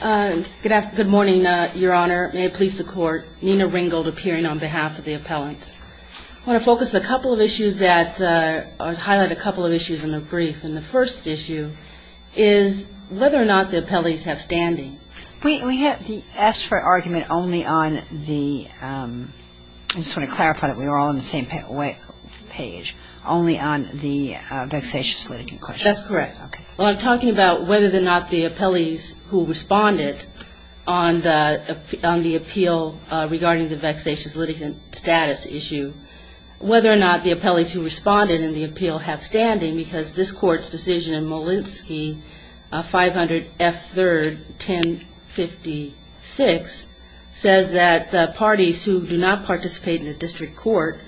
Good morning, Your Honor. May it please the Court, Nina Ringgold appearing on behalf of the appellants. I want to focus a couple of issues that, or highlight a couple of issues in the brief. And the first issue is whether or not the appellees have standing. We asked for an argument only on the, I just want to clarify that we were all on the same page, only on the vexatious litigant question. That's correct. Okay. Well, I'm talking about whether or not the appellees who responded on the appeal regarding the vexatious litigant status issue, whether or not the appellees who responded in the appeal have standing, because this Court's decision in Molenski, 500 F. 3rd, 1056, says that parties who do not participate in a district court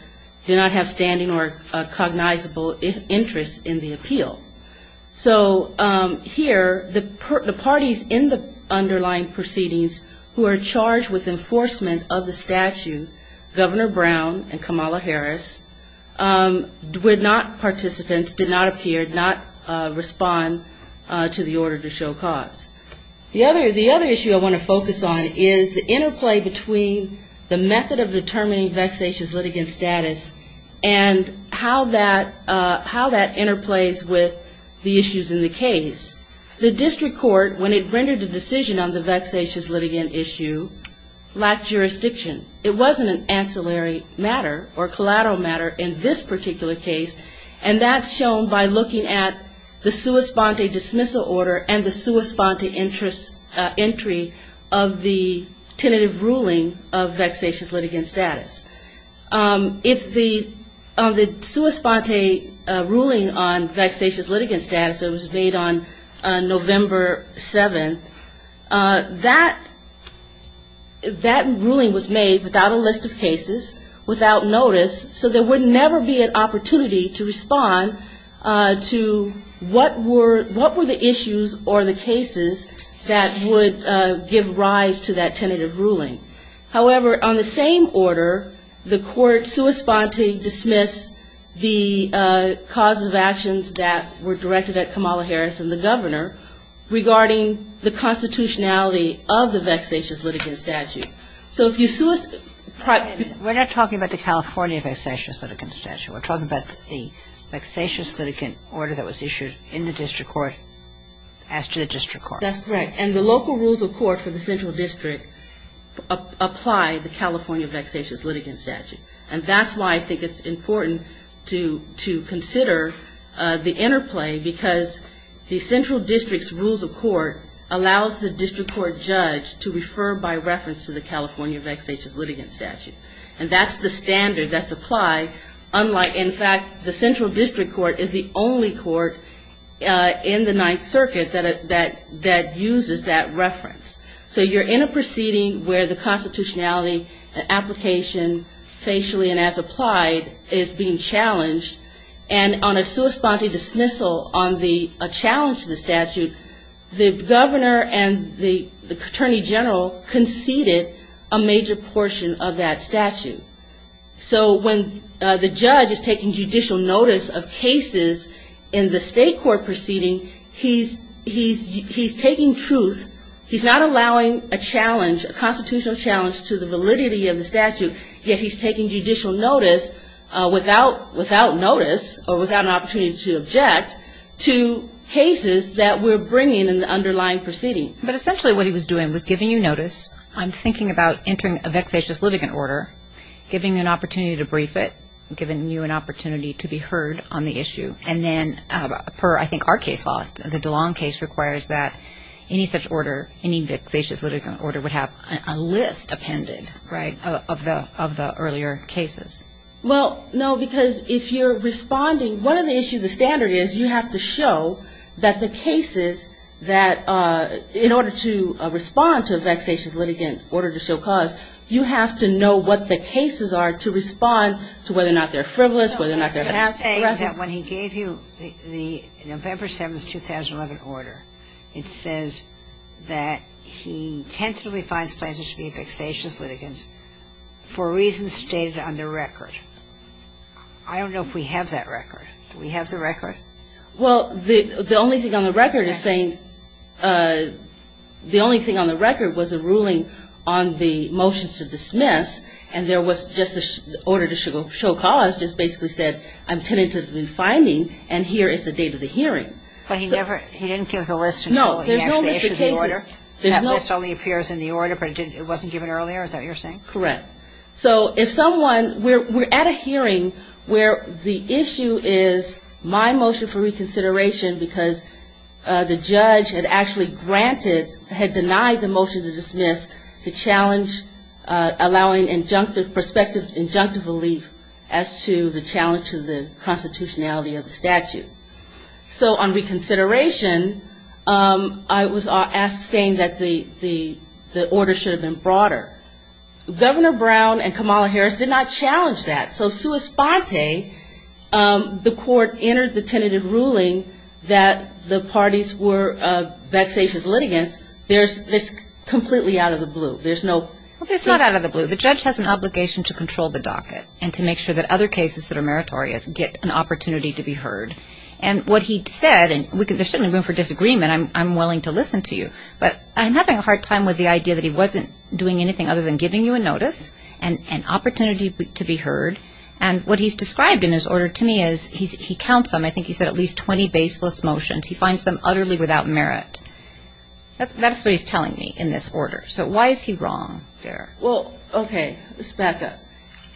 do not have standing or cognizable interest in the appeal. So here, the parties in the underlying proceedings who are charged with enforcement of the statute, Governor Brown and Kamala Harris, were not participants, did not appear, did not respond to the order to show cause. The other issue I want to focus on is the interplay between the method of determining vexatious litigant status and how that interplays with the issues in the case. The district court, when it rendered a decision on the vexatious litigant issue, lacked jurisdiction. It wasn't an ancillary matter or collateral matter in this particular case, and that's shown by looking at the sua sponte dismissal order and the sua sponte entry of the tentative ruling of vexatious litigant status. If the sua sponte ruling on vexatious litigant status that was made on November 7th, that ruling was made without a list of cases, without notice, so there would never be an opportunity to respond to what were the issues or the cases that would give rise to that tentative ruling. However, on the same order, the court sua sponte dismissed the causes of actions that were directed at Kamala Harris and the Governor regarding the constitutionality of the vexatious litigant statute. We're not talking about the California vexatious litigant statute. We're talking about the vexatious litigant order that was issued in the district court as to the district court. That's correct, and the local rules of court for the central district apply the California vexatious litigant statute, and that's why I think it's important to consider the interplay because the central district's rules of court allows the district court judge to refer by reference to the California vexatious litigant statute, and that's the standard that's applied, unlike, in fact, the central district court is the only court in the Ninth Circuit that uses that reference. So you're in a proceeding where the constitutionality application facially and as applied is being challenged, and on a sua sponte dismissal on the challenge to the statute, the Governor and the Attorney General conceded a major portion of that statute. So when the judge is taking judicial notice of cases in the state court proceeding, he's taking truth. He's not allowing a challenge, a constitutional challenge to the validity of the statute, yet he's taking judicial notice without notice or without an opportunity to object to cases that we're bringing in the underlying proceeding. But essentially what he was doing was giving you notice, I'm thinking about entering a vexatious litigant order, giving you an opportunity to brief it, giving you an opportunity to be heard on the issue, and then per I think our case law, the DeLong case requires that any such order, any vexatious litigant order would have a list appended, right, of the earlier cases. Well, no, because if you're responding, one of the issues of the standard is you have to show that the cases that, in order to respond to a vexatious litigant order to show cause, you have to know what the cases are to respond to whether or not they're frivolous, whether or not they're vexatious. I'm saying that when he gave you the November 7th, 2011 order, it says that he tentatively finds plaintiffs to be vexatious litigants for reasons stated on the record. I don't know if we have that record. Do we have the record? Well, the only thing on the record is saying, the only thing on the record was a ruling on the motions to dismiss, and there was just the order to show cause just basically said, I'm tentatively finding, and here is the date of the hearing. But he never, he didn't give the list? No, there's no Mr. Casey. That list only appears in the order, but it wasn't given earlier? Is that what you're saying? Correct. So if someone, we're at a hearing where the issue is my motion for reconsideration because the judge had actually granted, had denied the motion to dismiss to challenge allowing injunctive perspective, injunctive relief as to the challenge to the constitutionality of the statute. So on reconsideration, I was asked, saying that the order should have been broader. Governor Brown and Kamala Harris did not challenge that. So sua sponte, the court entered the tentative ruling that the parties were vexatious litigants, there's this completely out of the blue. There's no. It's not out of the blue. The judge has an obligation to control the docket and to make sure that other cases that are meritorious get an opportunity to be heard. And what he said, and there shouldn't be room for disagreement. I'm willing to listen to you. But I'm having a hard time with the idea that he wasn't doing anything other than giving you a notice and an opportunity to be heard. And what he's described in his order to me is he counts them. I think he said at least 20 baseless motions. He finds them utterly without merit. That's what he's telling me in this order. So why is he wrong there? Well, okay, let's back up.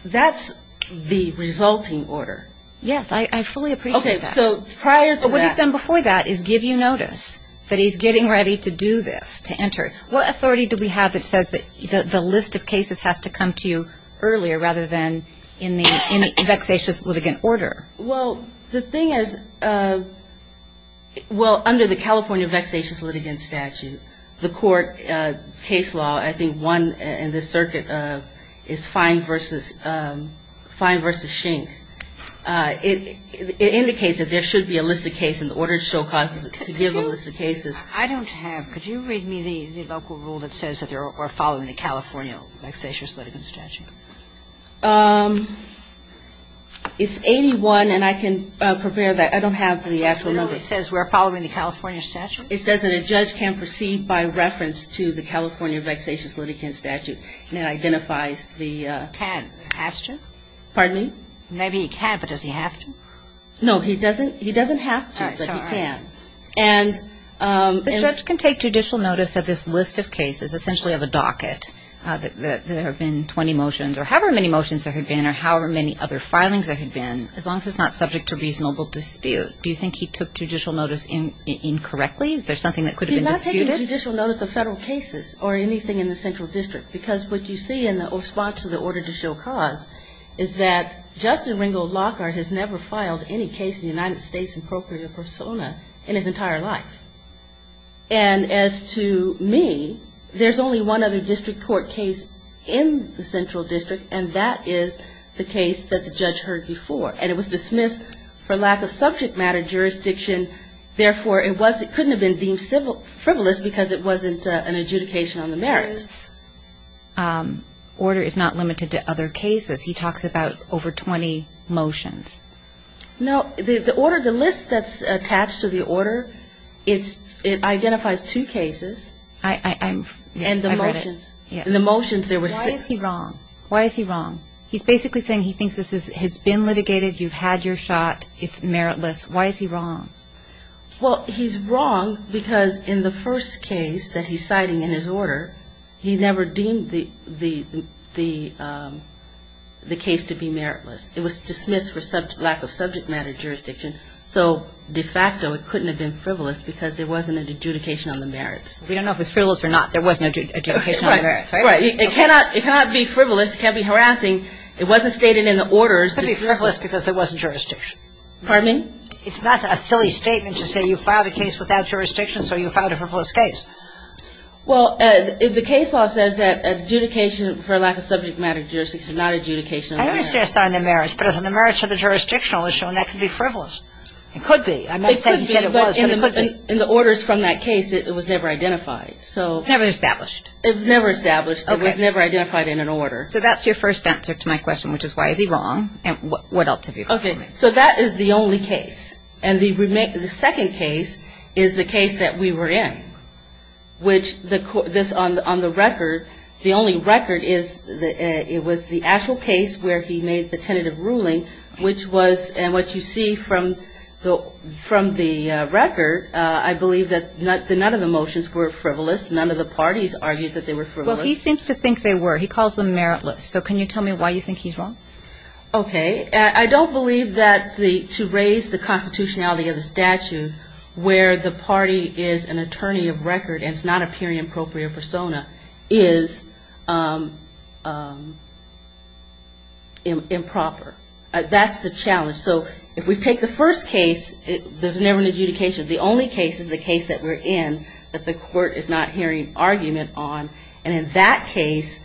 That's the resulting order. Yes, I fully appreciate that. Okay, so prior to that. What he's done before that is give you notice that he's getting ready to do this, to enter. What authority do we have that says that the list of cases has to come to you earlier rather than in the vexatious litigant order? Well, the thing is, well, under the California vexatious litigant statute, the court case law, I think one in the circuit is Fine v. Schenck. It indicates that there should be a list of cases in order to show causes to give a list of cases. I don't have. Could you read me the local rule that says that we're following the California vexatious litigant statute? It's 81, and I can prepare that. I don't have the actual number. No, it says we're following the California statute. It says that a judge can proceed by reference to the California vexatious litigant statute, and it identifies the... Can. Has to. Pardon me? Maybe he can, but does he have to? No, he doesn't have to, but he can. All right, sorry. And... The judge can take judicial notice of this list of cases, essentially of a docket, that there have been 20 motions or however many motions there have been or however many other filings there have been, as long as it's not subject to reasonable dispute. Do you think he took judicial notice incorrectly? Is there something that could have been disputed? He's not taking judicial notice of federal cases or anything in the central district, because what you see in the response to the order to show cause is that Justin Ringgold Lockhart has never filed any case in the United States in procurator persona in his entire life. And as to me, there's only one other district court case in the central district, and that is the case that the judge heard before, and it was dismissed for lack of subject matter jurisdiction. Therefore, it couldn't have been deemed frivolous, because it wasn't an adjudication on the merits. Order is not limited to other cases. He talks about over 20 motions. No, the order, the list that's attached to the order, it identifies two cases. I'm... And the motions... Yes, I read it. And the motions, there were six. Why is he wrong? Why is he wrong? He's basically saying he thinks this has been litigated. You've had your shot. It's meritless. Why is he wrong? Well, he's wrong because in the first case that he's citing in his order, he never deemed the case to be meritless. It was dismissed for lack of subject matter jurisdiction, so de facto it couldn't have been frivolous, because there wasn't an adjudication on the merits. We don't know if it's frivolous or not. There was no adjudication on the merits, right? Right. It cannot be frivolous. It can't be harassing. It wasn't stated in the orders. It could be frivolous because there wasn't jurisdiction. Pardon me? It's not a silly statement to say you filed a case without jurisdiction, so you filed a frivolous case. Well, the case law says that adjudication for lack of subject matter jurisdiction, not adjudication on the merits. I understand it's not on the merits, but it's on the merits of the jurisdictionalist, so that could be frivolous. It could be. I'm not saying he said it was, but it could be. It could be, but in the orders from that case, it was never identified, so... It was never established. It was never established. Okay. It was never identified in an order. So that's your first answer to my question, which is why is he wrong, and what else have you got for me? Okay. So that is the only case. And the second case is the case that we were in, which on the record, the only record is it was the actual case where he made the tentative ruling, which was, and what you see from the record, I believe that none of the motions were frivolous. None of the parties argued that they were frivolous. Well, he seems to think they were. He calls them meritless. So can you tell me why you think he's wrong? Okay. I don't believe that to raise the constitutionality of the statute where the party is an attorney of record and it's not a period-appropriate persona is improper. That's the challenge. So if we take the first case, there's never an adjudication. The only case is the case that we're in that the court is not hearing argument on, and in that case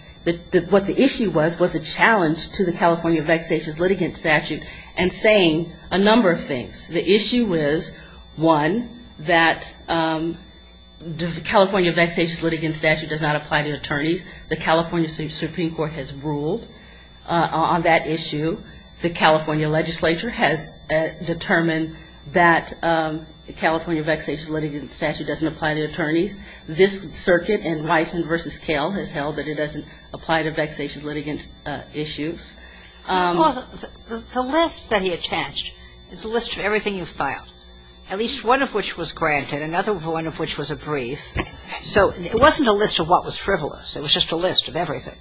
what the issue was was a challenge to the California vexatious litigant statute and saying a number of things. The issue is, one, that the California vexatious litigant statute does not apply to attorneys. The California Supreme Court has ruled on that issue. The California legislature has determined that the California vexatious litigant statute doesn't apply to attorneys. This circuit in Weisman v. Kale has held that it doesn't apply to vexatious litigant issues. Well, the list that he attached, it's a list of everything you've filed, at least one of which was granted, another one of which was a brief. So it wasn't a list of what was frivolous. It was just a list of everything.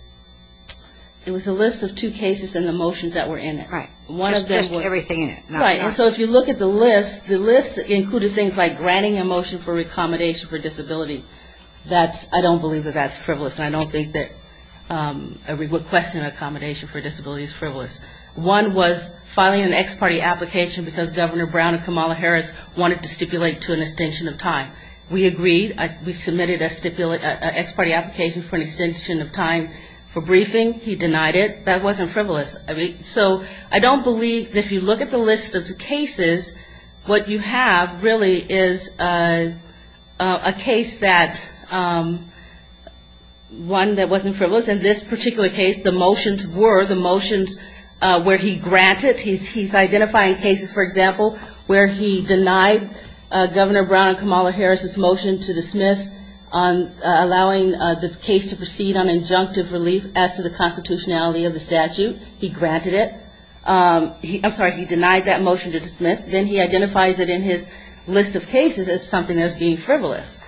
It was a list of two cases and the motions that were in it. Just everything in it. So if you look at the list, the list included things like granting a motion for accommodation for disability. I don't believe that that's frivolous, and I don't think that requesting accommodation for disability is frivolous. One was filing an ex parte application because Governor Brown and Kamala Harris wanted to stipulate to an extension of time. We agreed. We submitted an ex parte application for an extension of time for briefing. He denied it. That wasn't frivolous. So I don't believe that if you look at the list of cases, what you have really is a case that wasn't frivolous. In this particular case, the motions were the motions where he granted. He's identifying cases, for example, where he denied Governor Brown and Kamala Harris' motion to dismiss on allowing the case to proceed on injunctive relief as to the constitutionality of the statute. He granted it. I'm sorry, he denied that motion to dismiss. Then he identifies it in his list of cases as something that was being frivolous.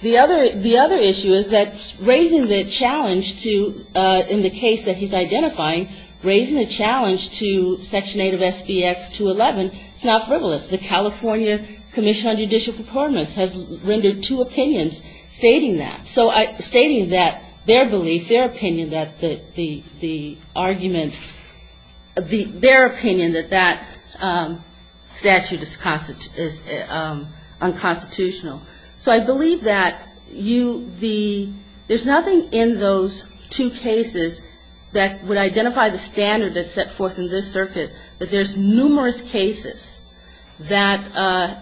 The other issue is that raising the challenge to, in the case that he's identifying, raising the challenge to Section 8 of SBX 211, it's not frivolous. The California Commission on Judicial Performance has rendered two opinions stating that. So stating that their belief, their opinion that the argument, their opinion that that statute is unconstitutional. So I believe that you, the, there's nothing in those two cases that would identify the standard that's set forth in this circuit, that there's numerous cases that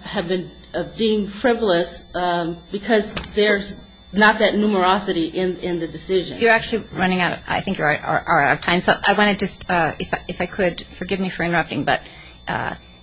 have been deemed frivolous because there's not that numerosity in the decision. You're actually running out of, I think you're out of time. So I want to just, if I could, forgive me for interrupting, but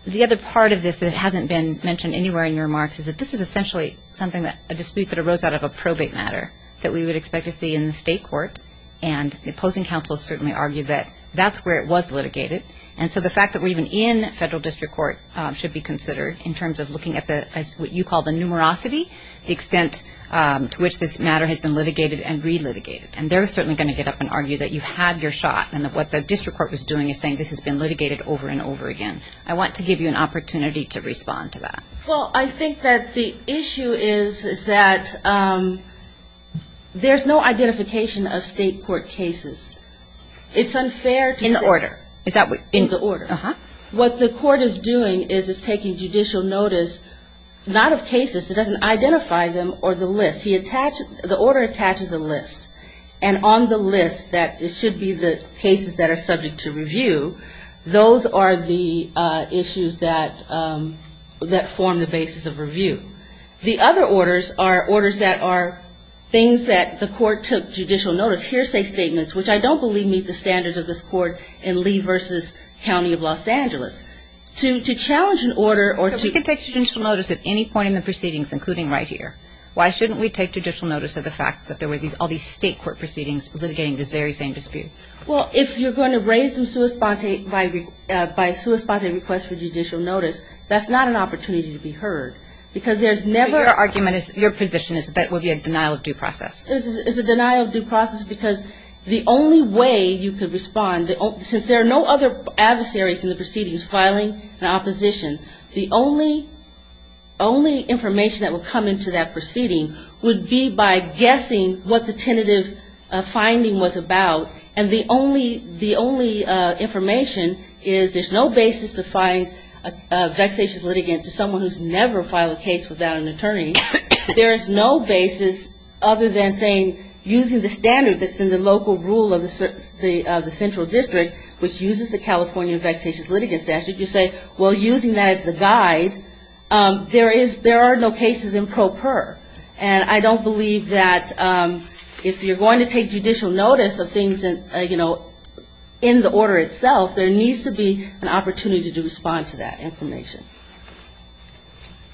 the other part of this that hasn't been mentioned anywhere in your remarks is that this is essentially something that, a dispute that arose out of a probate matter that we would expect to see in the state court. And the opposing counsel certainly argued that that's where it was litigated. And so the fact that we're even in federal district court should be considered in terms of looking at the, as what you call the numerosity, the extent to which this matter has been litigated and re-litigated. And they're certainly going to get up and argue that you had your shot, and that what the district court was doing is saying this has been litigated over and over again. I want to give you an opportunity to respond to that. Well, I think that the issue is, is that there's no identification of state court cases. It's unfair to say. In the order. Is that what? In the order. Uh-huh. What the court is doing is it's taking judicial notice, not of cases, it doesn't identify them or the list. The order attaches a list. And on the list that it should be the cases that are subject to review, those are the issues that form the basis of review. The other orders are orders that are things that the court took judicial notice, hearsay statements, which I don't believe meet the standards of this court in Lee v. County of Los Angeles. To challenge an order or to. We can take judicial notice at any point in the proceedings, including right here. Why shouldn't we take judicial notice of the fact that there were all these state court proceedings litigating this very same dispute? Well, if you're going to raise them by a sui sponte request for judicial notice, that's not an opportunity to be heard. Because there's never. Your argument is, your position is that that would be a denial of due process. It's a denial of due process because the only way you could respond, since there are no other adversaries in the proceedings, is filing an opposition. The only information that would come into that proceeding would be by guessing what the tentative finding was about. And the only information is there's no basis to find a vexatious litigant to someone who's never filed a case without an attorney. There is no basis other than saying, using the standard that's in the local rule of the central district, which uses the California vexatious litigant statute, you say, well, using that as the guide, there is no cases in pro per. And I don't believe that if you're going to take judicial notice of things, you know, in the order itself, there needs to be an opportunity to respond to that information.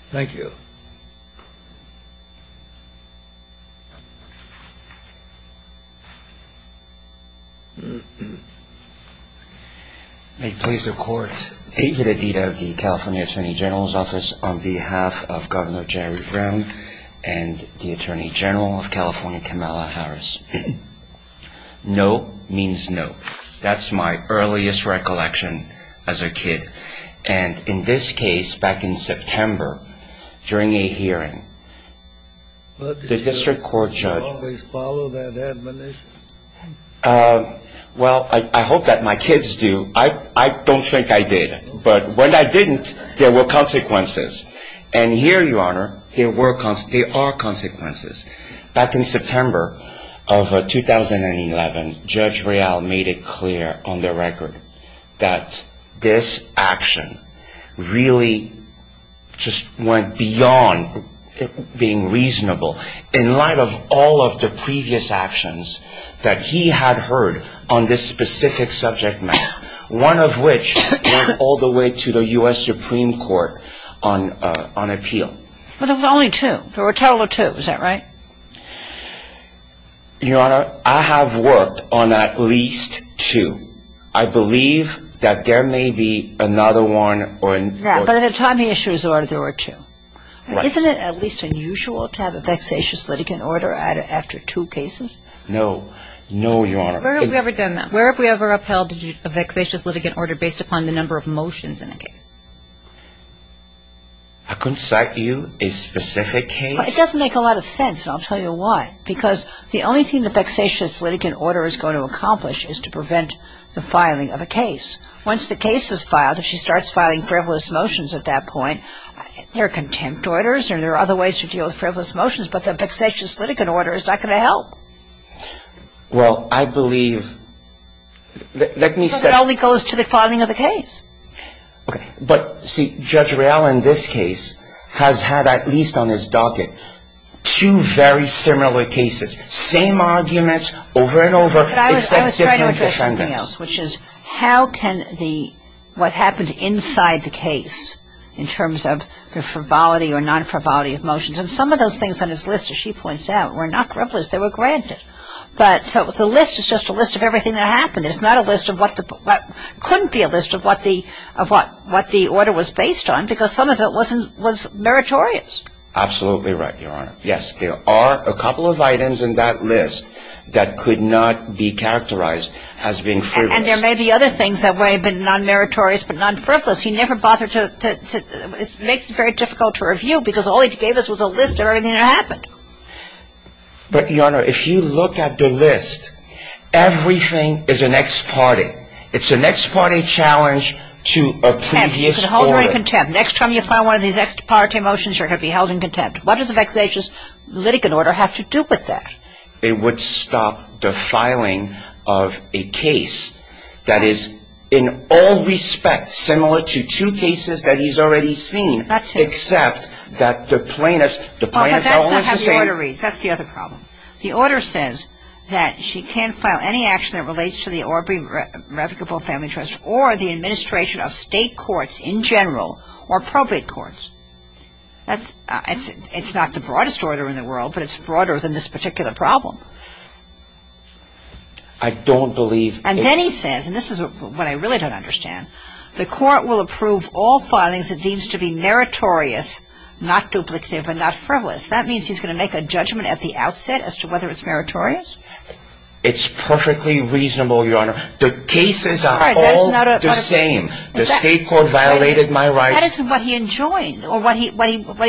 Thank you. Thank you. May it please the court. David Adida of the California Attorney General's Office on behalf of Governor Jerry Brown and the Attorney General of California, Kamala Harris. No means no. And in this case, back in September, during a hearing, the district court judge. Well, I hope that my kids do. I don't think I did. But when I didn't, there were consequences. And here, Your Honor, there are consequences. Back in September of 2011, Judge Real made it clear on the record that this action really just went beyond being reasonable. In light of all of the previous actions that he had heard on this specific subject matter, one of which went all the way to the U.S. Supreme Court on appeal. I'm just going to say that there were two. But there was only two. There were a total of two. Is that right? Your Honor, I have worked on at least two. I believe that there may be another one. Right. But at the time he issued his order, there were two. Right. Isn't it at least unusual to have a vexatious litigant order added after two cases? No. No, Your Honor. Where have we ever done that? It's a vexatious litigant order based upon the number of motions in a case. I couldn't cite you a specific case? It doesn't make a lot of sense, and I'll tell you why. Because the only thing the vexatious litigant order is going to accomplish is to prevent the filing of a case. Once the case is filed, if she starts filing frivolous motions at that point, there are contempt orders and there are other ways to deal with frivolous motions, but the vexatious litigant order is not going to help. Well, I believe that let me start. So it only goes to the filing of the case. Okay. But, see, Judge Rial in this case has had at least on his docket two very similar cases, same arguments over and over except different defendants. But I was trying to address something else, which is how can the what happened inside the case in terms of the frivolity or non-frivolity of motions, and some of those things on his list, as she points out, were not frivolous. They were granted. But the list is just a list of everything that happened. It's not a list of what couldn't be a list of what the order was based on because some of it was meritorious. Absolutely right, Your Honor. Yes, there are a couple of items in that list that could not be characterized as being frivolous. And there may be other things that may have been non-meritorious but non-frivolous. It makes it very difficult to review because all he gave us was a list of everything that happened. But, Your Honor, if you look at the list, everything is an ex parte. It's an ex parte challenge to a previous order. And you can hold her in contempt. Next time you file one of these ex parte motions, you're going to be held in contempt. What does a vexatious litigant order have to do with that? It would stop the filing of a case that is, in all respect, similar to two cases that he's already seen. That's true. Except that the plaintiffs are always the same. But that's not how the order reads. That's the other problem. The order says that she can't file any action that relates to the Orbee Revocable Family Trust or the administration of state courts in general or probate courts. It's not the broadest order in the world, but it's broader than this particular problem. I don't believe it. And then he says, and this is what I really don't understand, the court will approve all filings it deems to be meritorious, not duplicative, and not frivolous. That means he's going to make a judgment at the outset as to whether it's meritorious? It's perfectly reasonable, Your Honor. The state court violated my rights. That isn't what he enjoined or what he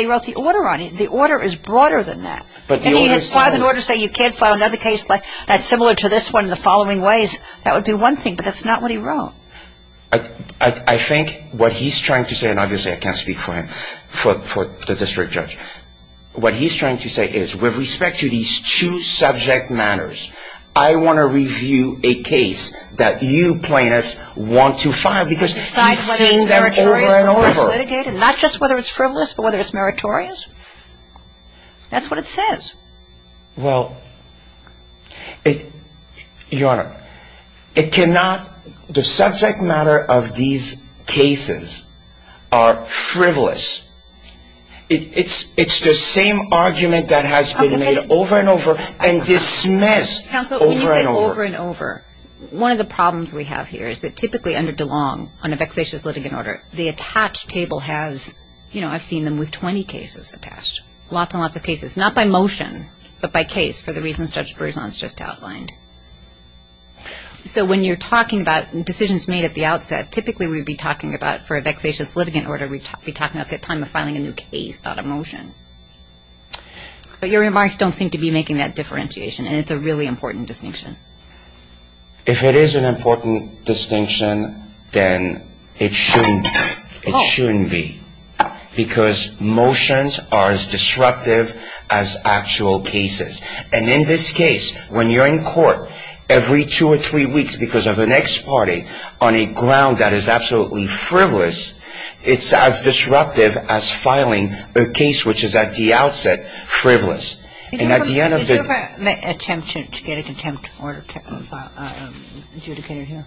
wrote the order on. The order is broader than that. If he had filed an order saying you can't file another case that's similar to this one in the following ways, that would be one thing, but that's not what he wrote. I think what he's trying to say, and obviously I can't speak for him, for the district judge, what he's trying to say is with respect to these two subject matters, I want to review a case that you plaintiffs want to file because he's seen them over and over. Besides whether it's meritorious before it's litigated? Not just whether it's frivolous, but whether it's meritorious? That's what it says. Well, Your Honor, it cannot, the subject matter of these cases are frivolous. It's the same argument that has been made over and over and dismissed over and over. Counsel, when you say over and over, one of the problems we have here is that typically under DeLong on a vexatious litigant order, the attached table has, you know, I've seen them with 20 cases attached, lots and lots of cases, not by motion, but by case for the reasons Judge Berzon has just outlined. So when you're talking about decisions made at the outset, typically we'd be talking about for a vexatious litigant order, we'd be talking about the time of filing a new case, not a motion. But your remarks don't seem to be making that differentiation, and it's a really important distinction. If it is an important distinction, then it shouldn't be. It shouldn't be. Because motions are as disruptive as actual cases. And in this case, when you're in court, every two or three weeks because of an ex parte on a ground that is absolutely frivolous, it's as disruptive as filing a case which is at the outset frivolous. And at the end of the day — Did you ever attempt to get a contempt order adjudicated here?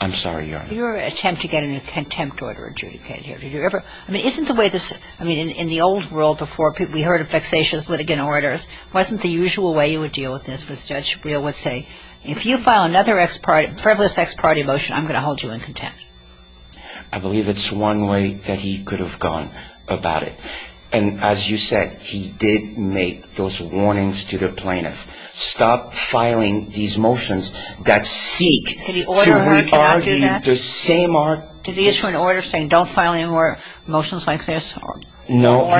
I'm sorry, Your Honor. Did you ever attempt to get a contempt order adjudicated here? Did you ever — I mean, isn't the way this — I mean, in the old world before, we heard of vexatious litigant orders. It wasn't the usual way you would deal with this. Judge Brewer would say, if you file another ex parte, frivolous ex parte motion, I'm going to hold you in contempt. I believe it's one way that he could have gone about it. And as you said, he did make those warnings to the plaintiff. Stop filing these motions that seek to re-argue the same — Did he order her not to do that? Did he issue an order saying don't file any more motions like this? Or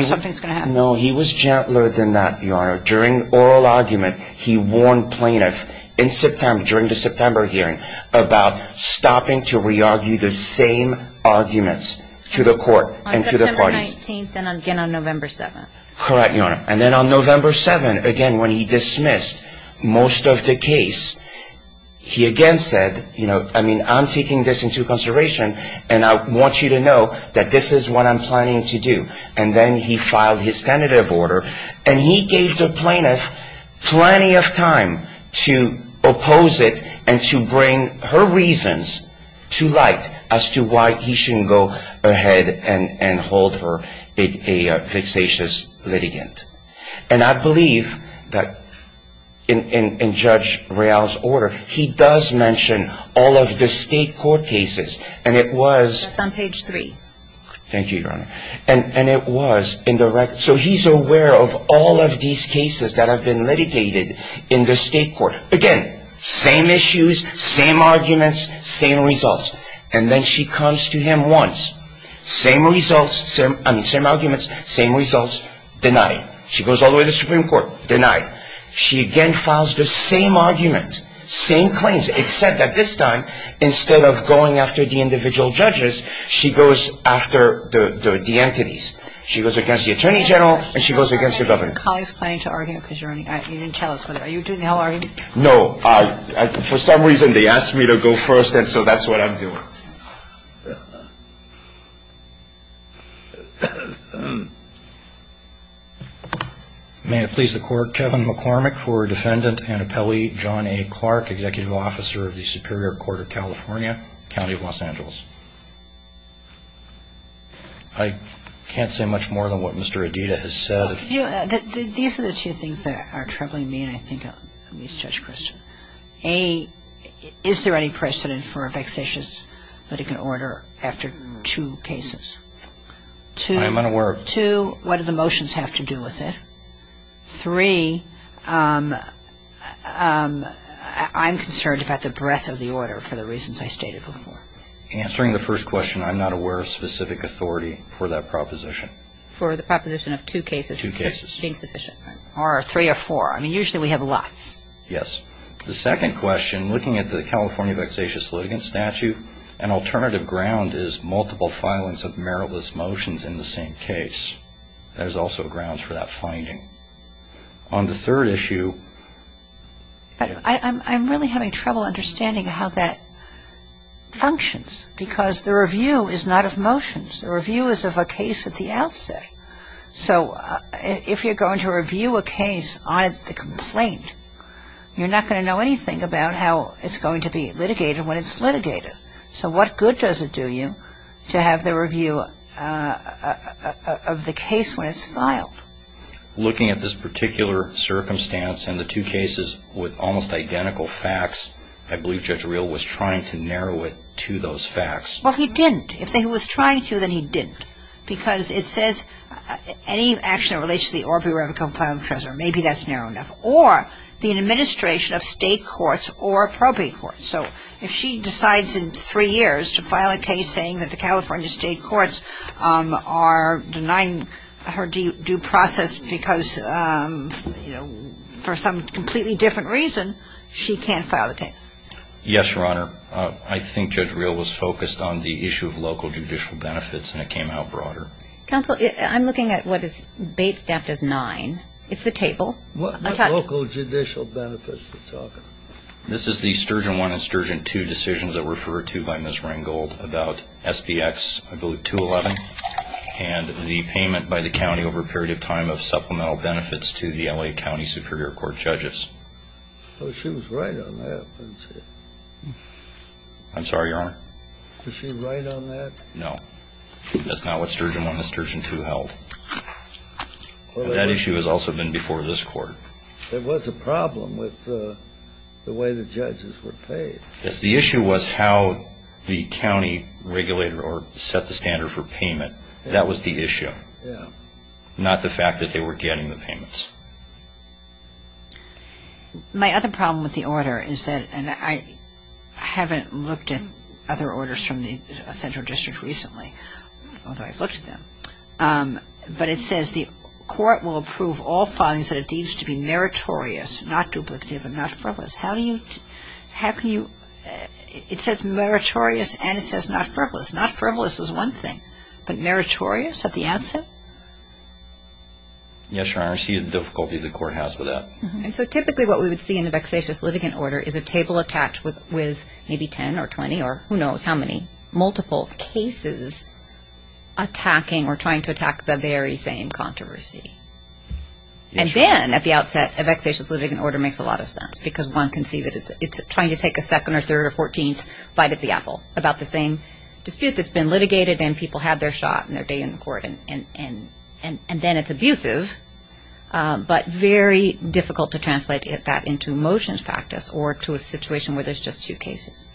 something's going to happen? No, he was gentler than that, Your Honor. During oral argument, he warned plaintiff in September, about stopping to re-argue the same arguments to the court and to the parties. On September 19th and again on November 7th. Correct, Your Honor. And then on November 7th, again, when he dismissed most of the case, he again said, you know, I mean, I'm taking this into consideration and I want you to know that this is what I'm planning to do. And then he filed his tentative order. And he gave the plaintiff plenty of time to oppose it and to bring her reasons to light as to why he shouldn't go ahead and hold her a vexatious litigant. And I believe that in Judge Real's order, he does mention all of the state court cases. And it was — Thank you, Your Honor. And it was indirect. So he's aware of all of these cases that have been litigated in the state court. Again, same issues, same arguments, same results. And then she comes to him once. Same results, I mean, same arguments, same results. Denied. She goes all the way to the Supreme Court. Denied. She again files the same argument, same claims, except that this time, instead of going after the individual judges, she goes after the entities. She goes against the attorney general, and she goes against the governor. Are your colleagues planning to argue because you didn't tell us? Are you doing the whole argument? No. For some reason, they asked me to go first, and so that's what I'm doing. May it please the Court, Kevin McCormick for Defendant Annapelle John A. Clark, Executive Officer of the Superior Court of California, County of Los Angeles. I can't say much more than what Mr. Adida has said. These are the two things that are troubling me, and I think it's Judge Christian. A, is there any precedent for a vexatious litigant order after two cases? I am unaware of that. Two, what do the motions have to do with it? Three, I'm concerned about the breadth of the order for the reasons I stated before. Answering the first question, I'm not aware of specific authority for that proposition. For the proposition of two cases. Two cases. It's insufficient. Or three or four. I mean, usually we have lots. Yes. The second question, looking at the California vexatious litigant statute, an alternative ground is multiple filings of meritless motions in the same case. That is also grounds for that finding. On the third issue. I'm really having trouble understanding how that functions, because the review is not of motions. The review is of a case at the outset. So if you're going to review a case on the complaint, you're not going to know anything about how it's going to be litigated when it's litigated. So what good does it do you to have the review of the case when it's filed? Looking at this particular circumstance and the two cases with almost identical facts, I believe Judge Reel was trying to narrow it to those facts. Well, he didn't. If he was trying to, then he didn't. Because it says any action that relates to the or be relevant to the complaint of a treasurer. Maybe that's narrow enough. Or the administration of state courts or appropriate courts. So if she decides in three years to file a case saying that the California State Courts are denying her due process because, you know, for some completely different reason, she can't file the case. Yes, Your Honor. I think Judge Reel was focused on the issue of local judicial benefits, and it came out broader. Counsel, I'm looking at what is bait-staffed as nine. It's the table. What local judicial benefits are you talking about? This is the Sturgeon I and Sturgeon II decisions that were referred to by Ms. Rengold about SBX, I believe, 211, and the payment by the county over a period of time of supplemental benefits to the L.A. County Superior Court judges. Well, she was right on that. I'm sorry, Your Honor? Was she right on that? No. That's not what Sturgeon I and Sturgeon II held. That issue has also been before this Court. There was a problem with the way the judges were paid. Yes. The issue was how the county regulated or set the standard for payment. That was the issue. Yeah. Not the fact that they were getting the payments. My other problem with the order is that, and I haven't looked at other orders from the central district recently, although I've looked at them, but it says the court will approve all filings that it deems to be meritorious, not duplicative, and not frivolous. How do you – how can you – it says meritorious and it says not frivolous. Not frivolous is one thing, but meritorious at the outset? Yes, Your Honor. I see the difficulty the court has with that. And so typically what we would see in the vexatious litigant order is a table attached with maybe 10 or 20 or who knows how many multiple cases attacking or trying to attack the very same controversy. And then at the outset a vexatious litigant order makes a lot of sense because one can see that it's trying to take a second or third or fourteenth bite at the apple about the same dispute that's been litigated and people had their shot and their day in court and then it's abusive, but very difficult to translate that into motions practice or to a situation where there's just two cases.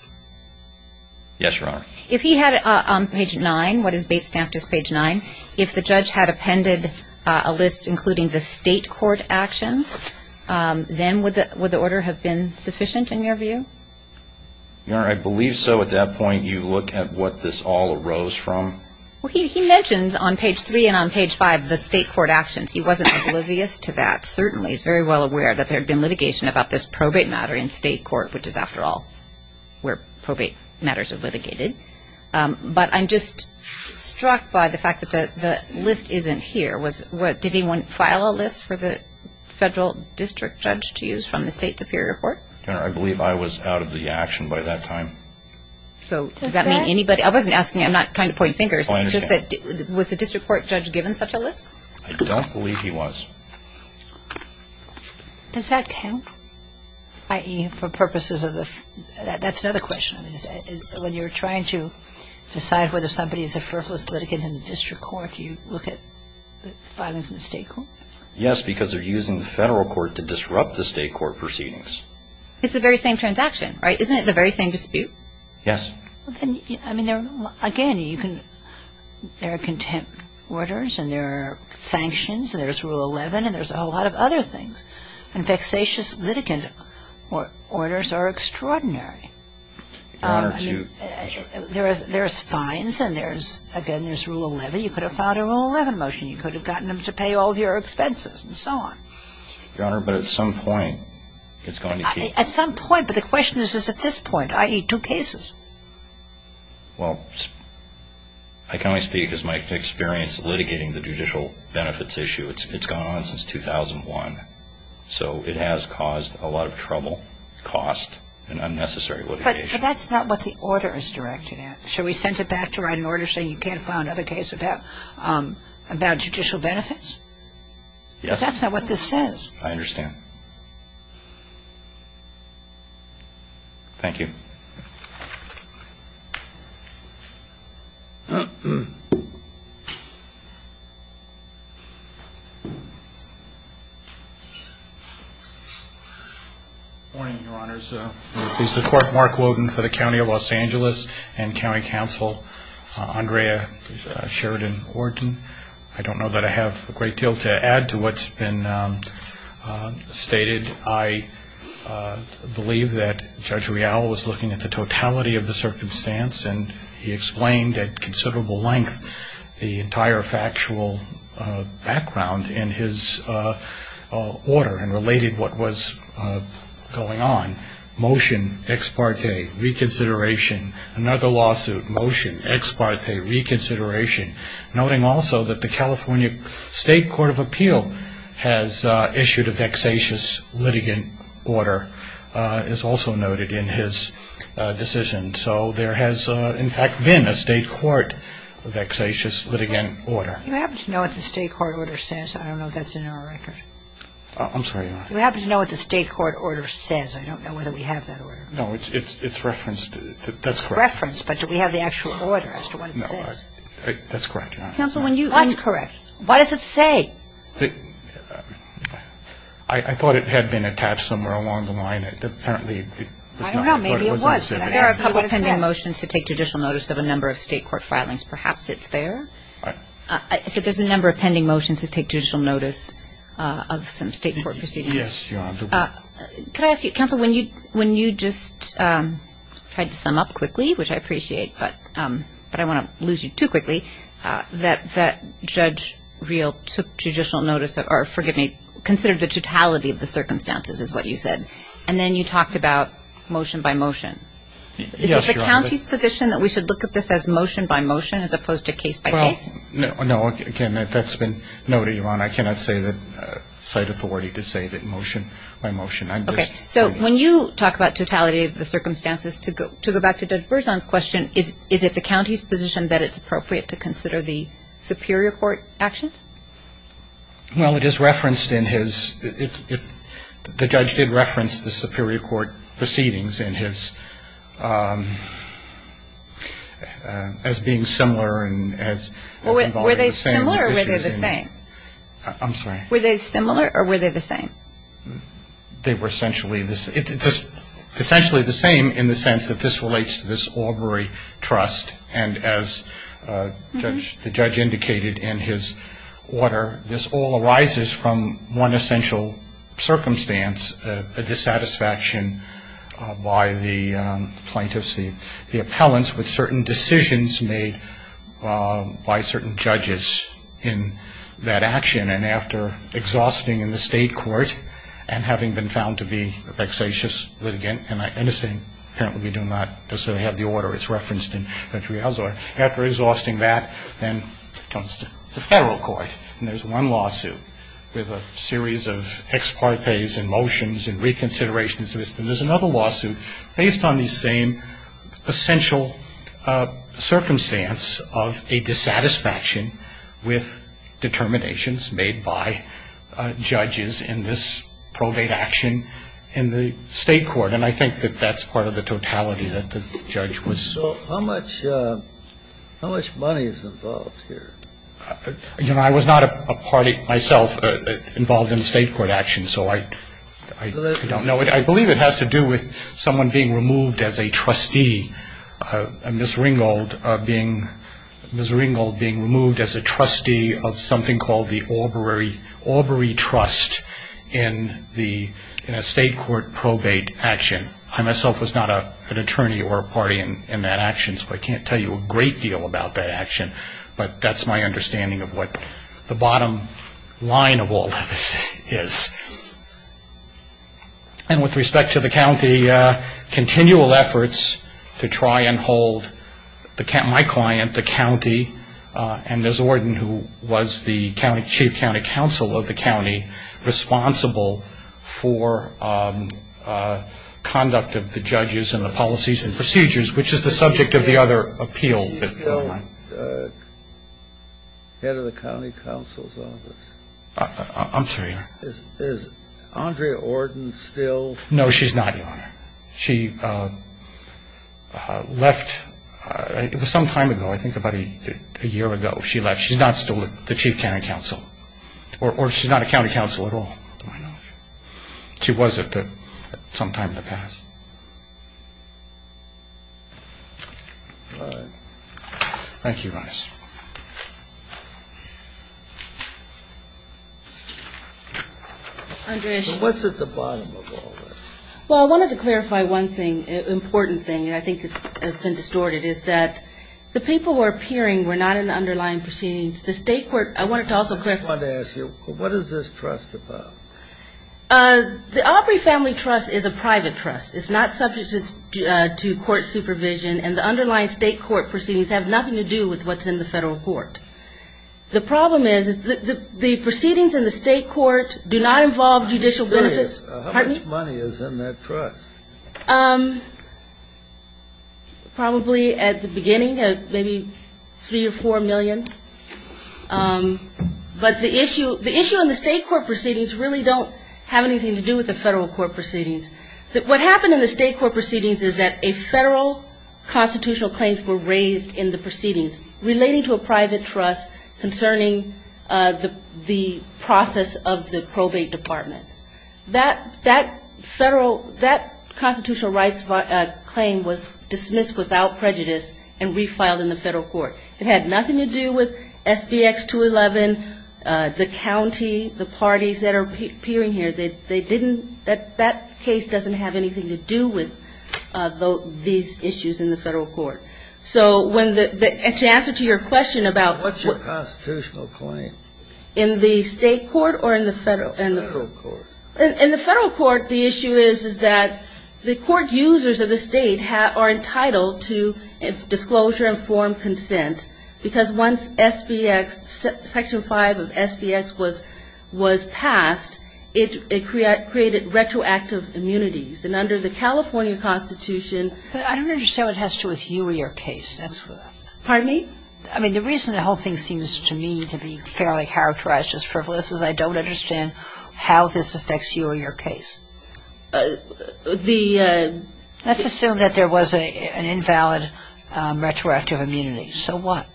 Yes, Your Honor. If he had it on page 9, what is based after page 9, if the judge had appended a list including the state court actions, then would the order have been sufficient in your view? Your Honor, I believe so. At that point you look at what this all arose from. Well, he mentions on page 3 and on page 5 the state court actions. He wasn't oblivious to that. Certainly he's very well aware that there had been litigation about this probate matter in state court, which is after all where probate matters are litigated. But I'm just struck by the fact that the list isn't here. Did anyone file a list for the federal district judge to use from the state superior court? Your Honor, I believe I was out of the action by that time. So does that mean anybody? I wasn't asking. I'm not trying to point fingers. I understand. Was the district court judge given such a list? I don't believe he was. Does that count, i.e., for purposes of the – that's another question. When you're trying to decide whether somebody is a frivolous litigant in the district court, do you look at the filings in the state court? Yes, because they're using the federal court to disrupt the state court proceedings. It's the very same transaction, right? Isn't it the very same dispute? Yes. Well, then, I mean, again, you can – there are contempt orders and there are sanctions and there's Rule 11 and there's a whole lot of other things. And vexatious litigant orders are extraordinary. Your Honor, to – There's fines and there's – again, there's Rule 11. You could have filed a Rule 11 motion. You could have gotten them to pay all of your expenses and so on. At some point, but the question is, is at this point, i.e., two cases? Well, I can only speak as my experience litigating the judicial benefits issue. It's gone on since 2001. So it has caused a lot of trouble, cost, and unnecessary litigation. But that's not what the order is directed at. Should we send it back to write an order saying you can't file another case about judicial benefits? Yes. Because that's not what this says. I understand. Thank you. Good morning, Your Honors. This is Clerk Mark Woden for the County of Los Angeles and County Counsel Andrea Sheridan Wharton. I don't know that I have a great deal to add to what's been stated. I believe that Judge Real was looking at the totality of the circumstance, and he explained at considerable length the entire factual background in his order and related what was going on. Motion, ex parte, reconsideration. Another lawsuit, motion, ex parte, reconsideration. Noting also that the California State Court of Appeal has issued a vexatious litigant order, as also noted in his decision. So there has, in fact, been a state court vexatious litigant order. Do you happen to know what the state court order says? I don't know if that's in our record. I'm sorry, Your Honor. Do you happen to know what the state court order says? I don't know whether we have that order. No, it's referenced. It's referenced, but do we have the actual order as to what it says? No. That's correct, Your Honor. That's correct. What does it say? I thought it had been attached somewhere along the line. It apparently was not. I don't know. Maybe it was. There are a couple pending motions to take judicial notice of a number of state court filings. Perhaps it's there. I said there's a number of pending motions to take judicial notice of some state court proceedings. Yes, Your Honor. Could I ask you, counsel, when you just tried to sum up quickly, which I appreciate, but I don't want to lose you too quickly, that Judge Reel took judicial notice of, or forgive me, considered the totality of the circumstances is what you said. And then you talked about motion by motion. Yes, Your Honor. Is it the county's position that we should look at this as motion by motion as opposed to case by case? No. Again, that's been noted, Your Honor. I cannot cite authority to say that motion by motion. Okay. So when you talk about totality of the circumstances, to go back to Judge Berzon's question, is it the county's position that it's appropriate to consider the superior court actions? Well, it is referenced in his – the judge did reference the superior court proceedings in his – as being similar and as Was they similar or were they the same? I'm sorry. Were they similar or were they the same? They were essentially the same in the sense that this relates to this Aubrey trust. And as the judge indicated in his order, this all arises from one essential circumstance, a dissatisfaction by the plaintiffs, the appellants, with certain decisions made by certain judges in that action. And then after exhausting in the state court and having been found to be a vexatious litigant, and I understand apparently we do not necessarily have the order. It's referenced in Judge Rial's order. After exhausting that, then it comes to the federal court. And there's one lawsuit with a series of ex partes and motions and reconsiderations. And there's another lawsuit based on the same essential circumstance of a dissatisfaction with determinations made by judges in this probate action in the state court. And I think that that's part of the totality that the judge was – So how much money is involved here? You know, I was not a party myself involved in state court action, so I don't know. I believe it has to do with someone being removed as a trustee, Ms. Ringgold being removed as a trustee of something called the Aubury Trust in a state court probate action. I myself was not an attorney or a party in that action, so I can't tell you a great deal about that action. But that's my understanding of what the bottom line of all this is. And with respect to the county, continual efforts to try and hold my client, the county, and Ms. Orden, who was the chief county counsel of the county, responsible for conduct of the judges and the policies and procedures, which is the subject of the other appeal that we're on. Is she still head of the county counsel's office? I'm sorry? Is Andrea Orden still? No, she's not, Your Honor. She left – it was some time ago, I think about a year ago she left. She's not still the chief county counsel. Or she's not a county counsel at all. She was at some time in the past. All right. Thank you, Your Honor. So what's at the bottom of all this? Well, I wanted to clarify one thing, an important thing, and I think this has been distorted, is that the people who are appearing were not in the underlying proceedings. The state court – I wanted to also clarify. I just wanted to ask you, what is this trust about? The Aubrey Family Trust is a private trust. It's not subject to court supervision, and the underlying state court proceedings have nothing to do with what's in the federal court. The problem is the proceedings in the state court do not involve judicial benefits. How much money is in that trust? Probably at the beginning, maybe three or four million. But the issue in the state court proceedings really don't have anything to do with the federal court proceedings. What happened in the state court proceedings is that a federal constitutional claim was raised in the proceedings relating to a private trust concerning the process of the probate department. That federal – that constitutional rights claim was dismissed without prejudice and refiled in the federal court. It had nothing to do with SBX-211, the county, the parties that are appearing here. They didn't – that case doesn't have anything to do with these issues in the federal court. So when the – to answer to your question about what's your constitutional claim? In the state court or in the federal court? In the federal court, the issue is, is that the court users of the state are entitled to disclosure and form consent because once SBX – Section 5 of SBX was passed, it created retroactive immunities. And under the California Constitution – But I don't understand what has to do with you or your case. Pardon me? I mean, the reason the whole thing seems to me to be fairly characterized as frivolous is I don't understand how this affects you or your case. The – Let's assume that there was an invalid retroactive immunity. So what?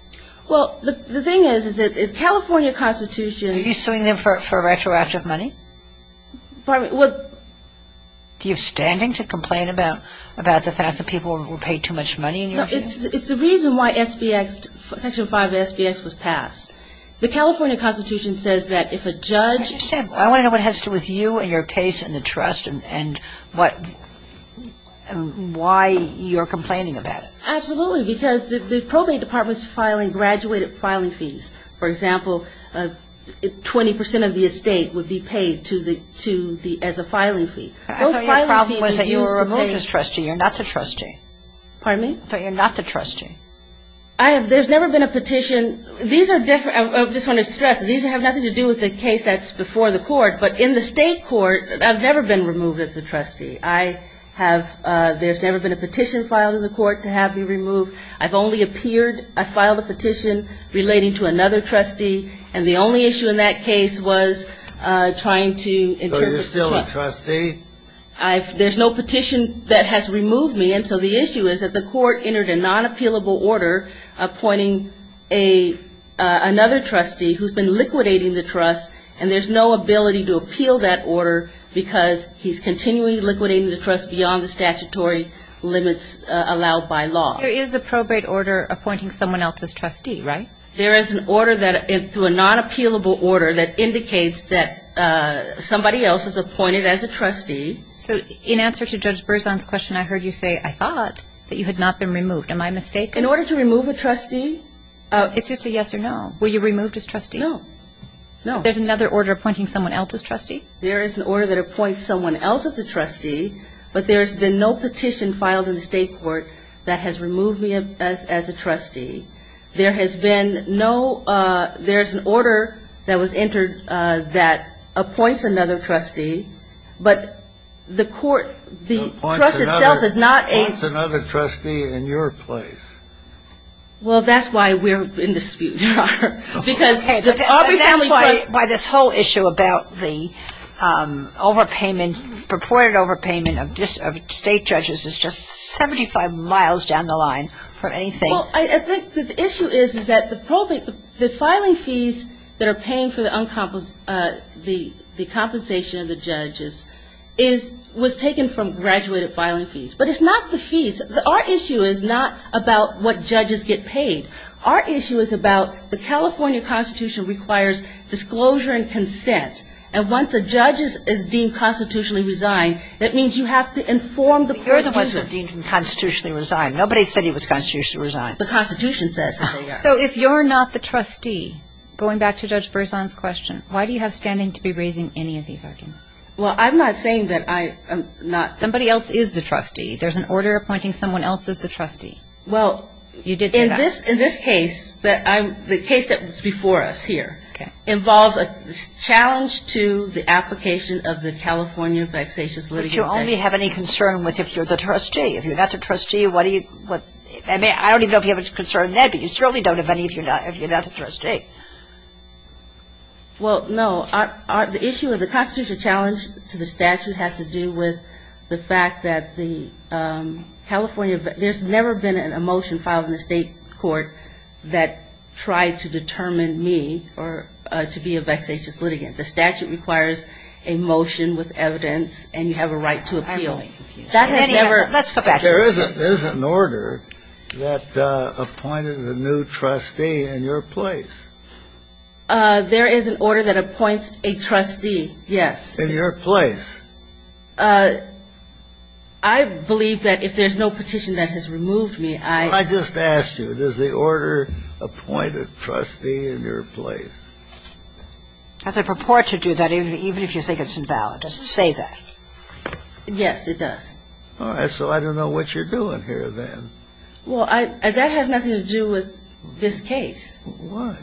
Well, the thing is, is that if California Constitution – Are you suing them for retroactive money? Pardon me? Do you have standing to complain about the fact that people were paid too much money in your case? No, it's the reason why SBX – Section 5 of SBX was passed. The California Constitution says that if a judge – I want to know what has to do with you and your case and the trust and what – why you're complaining about it. Absolutely. Because the probate department is filing graduated filing fees. For example, 20 percent of the estate would be paid to the – as a filing fee. I thought your problem was that you were a religious trustee. You're not the trustee. Pardon me? I thought you're not the trustee. I have – there's never been a petition – These are different – I just want to stress, these have nothing to do with the case that's before the court. But in the state court, I've never been removed as a trustee. I have – there's never been a petition filed in the court to have me removed. I've only appeared – I filed a petition relating to another trustee. And the only issue in that case was trying to interpret – So you're still a trustee? I've – there's no petition that has removed me. And so the issue is that the court entered a non-appealable order appointing another trustee who's been liquidating the trust, and there's no ability to appeal that order because he's continually liquidating the trust beyond the statutory limits allowed by law. There is a probate order appointing someone else as trustee, right? There is an order that – through a non-appealable order that indicates that somebody else is appointed as a trustee. So in answer to Judge Berzon's question, I heard you say, I thought that you had not been removed. Am I mistaken? In order to remove a trustee? It's just a yes or no. Were you removed as trustee? No. No. There's another order appointing someone else as trustee? There is an order that appoints someone else as a trustee, but there's been no petition filed in the state court that has removed me as a trustee. There has been no – there's an order that was entered that appoints another trustee, but the court – the trust itself is not a – Appoints another trustee in your place. Well, that's why we're in dispute, Your Honor, because the Aubrey family trust – That's why this whole issue about the overpayment, purported overpayment of state judges is just 75 miles down the line from anything. Well, I think the issue is, is that the filing fees that are paying for the compensation of the judges was taken from graduated filing fees. But it's not the fees. Our issue is not about what judges get paid. Our issue is about the California Constitution requires disclosure and consent, and once a judge is deemed constitutionally resigned, that means you have to inform the court. But you're the one who was deemed constitutionally resigned. Nobody said he was constitutionally resigned. The Constitution says that they are. So if you're not the trustee, going back to Judge Berzon's question, why do you have standing to be raising any of these arguments? Well, I'm not saying that I am not. Somebody else is the trustee. There's an order appointing someone else as the trustee. Well, in this case, the case that was before us here involves a challenge to the application of the California vexatious litigation. But you only have any concern with if you're the trustee. If you're not the trustee, what do you – I don't even know if you have a concern in that, but you certainly don't have any if you're not the trustee. Well, no. The issue of the constitutional challenge to the statute has to do with the fact that the California – there's never been a motion filed in the state court that tried to determine me to be a vexatious litigant. The statute requires a motion with evidence, and you have a right to appeal. I'm really confused. That has never – Let's go back. There is an order that appointed a new trustee in your place. There is an order that appoints a trustee, yes. In your place. I believe that if there's no petition that has removed me, I – I just asked you, does the order appoint a trustee in your place? As I purport to do that, even if you think it's invalid, does it say that? Yes, it does. All right. So I don't know what you're doing here then. Well, I – that has nothing to do with this case. Why?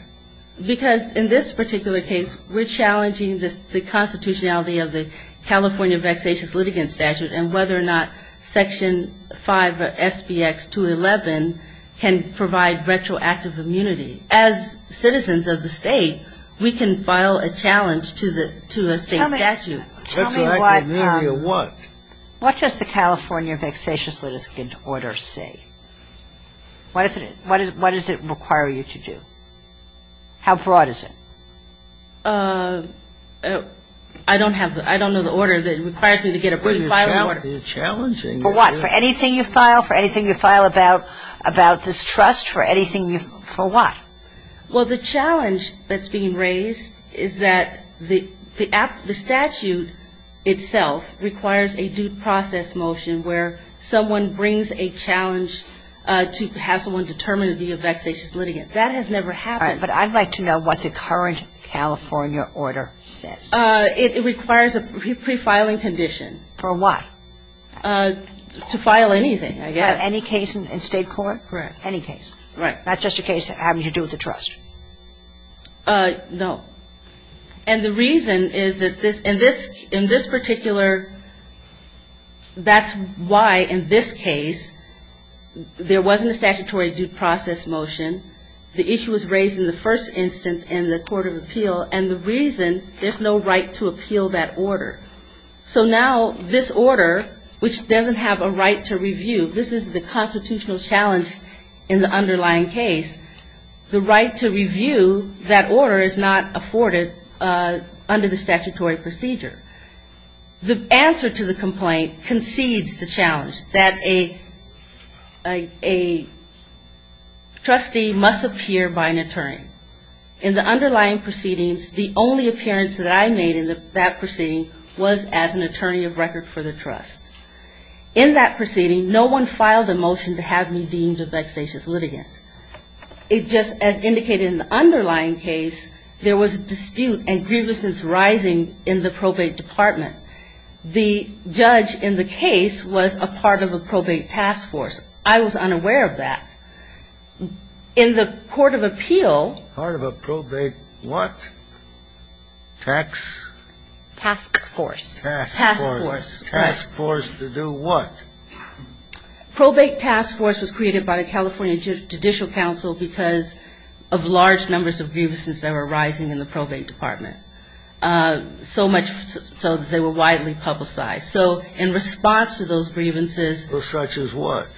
Because in this particular case, we're challenging the constitutionality of the California vexatious litigant statute and whether or not Section 5 of SBX-211 can provide retroactive immunity. As citizens of the state, we can file a challenge to the – to a state statute. Tell me – tell me what – Retroactive immunity of what? What does the California vexatious litigant order say? What is it – what does it require you to do? How broad is it? I don't have the – I don't know the order that requires me to get approved to file an order. But it's challenging. For what? For anything you file? For anything you file about – about this trust? For anything you – for what? Well, the challenge that's being raised is that the – the statute itself requires a due process motion where someone brings a challenge to have someone determine to be a vexatious litigant. That has never happened. All right. But I'd like to know what the current California order says. It requires a pre-filing condition. For what? To file anything, I guess. Any case in state court? Correct. Any case? Right. Not just a case having to do with the trust? No. And the reason is that this – in this – in this particular – that's why, in this case, there wasn't a statutory due process motion. The issue was raised in the first instance in the court of appeal. And the reason, there's no right to appeal that order. So now this order, which doesn't have a right to review, this is the constitutional challenge in the underlying case, the right to review that order is not afforded under the statutory procedure. The answer to the complaint concedes the challenge that a – a trustee must appear by an attorney. In the underlying proceedings, the only appearance that I made in that proceeding was as an attorney of record for the trust. In that proceeding, no one filed a motion to have me deemed a vexatious litigant. It just – as indicated in the underlying case, there was a dispute and grievousness rising in the probate department. The judge in the case was a part of a probate task force. I was unaware of that. In the court of appeal – Part of a probate what? Tax? Task force. Task force. Task force to do what? Probate task force was created by the California Judicial Council because of large numbers of grievances that were arising in the probate department. So much so that they were widely publicized. So in response to those grievances – Such as what?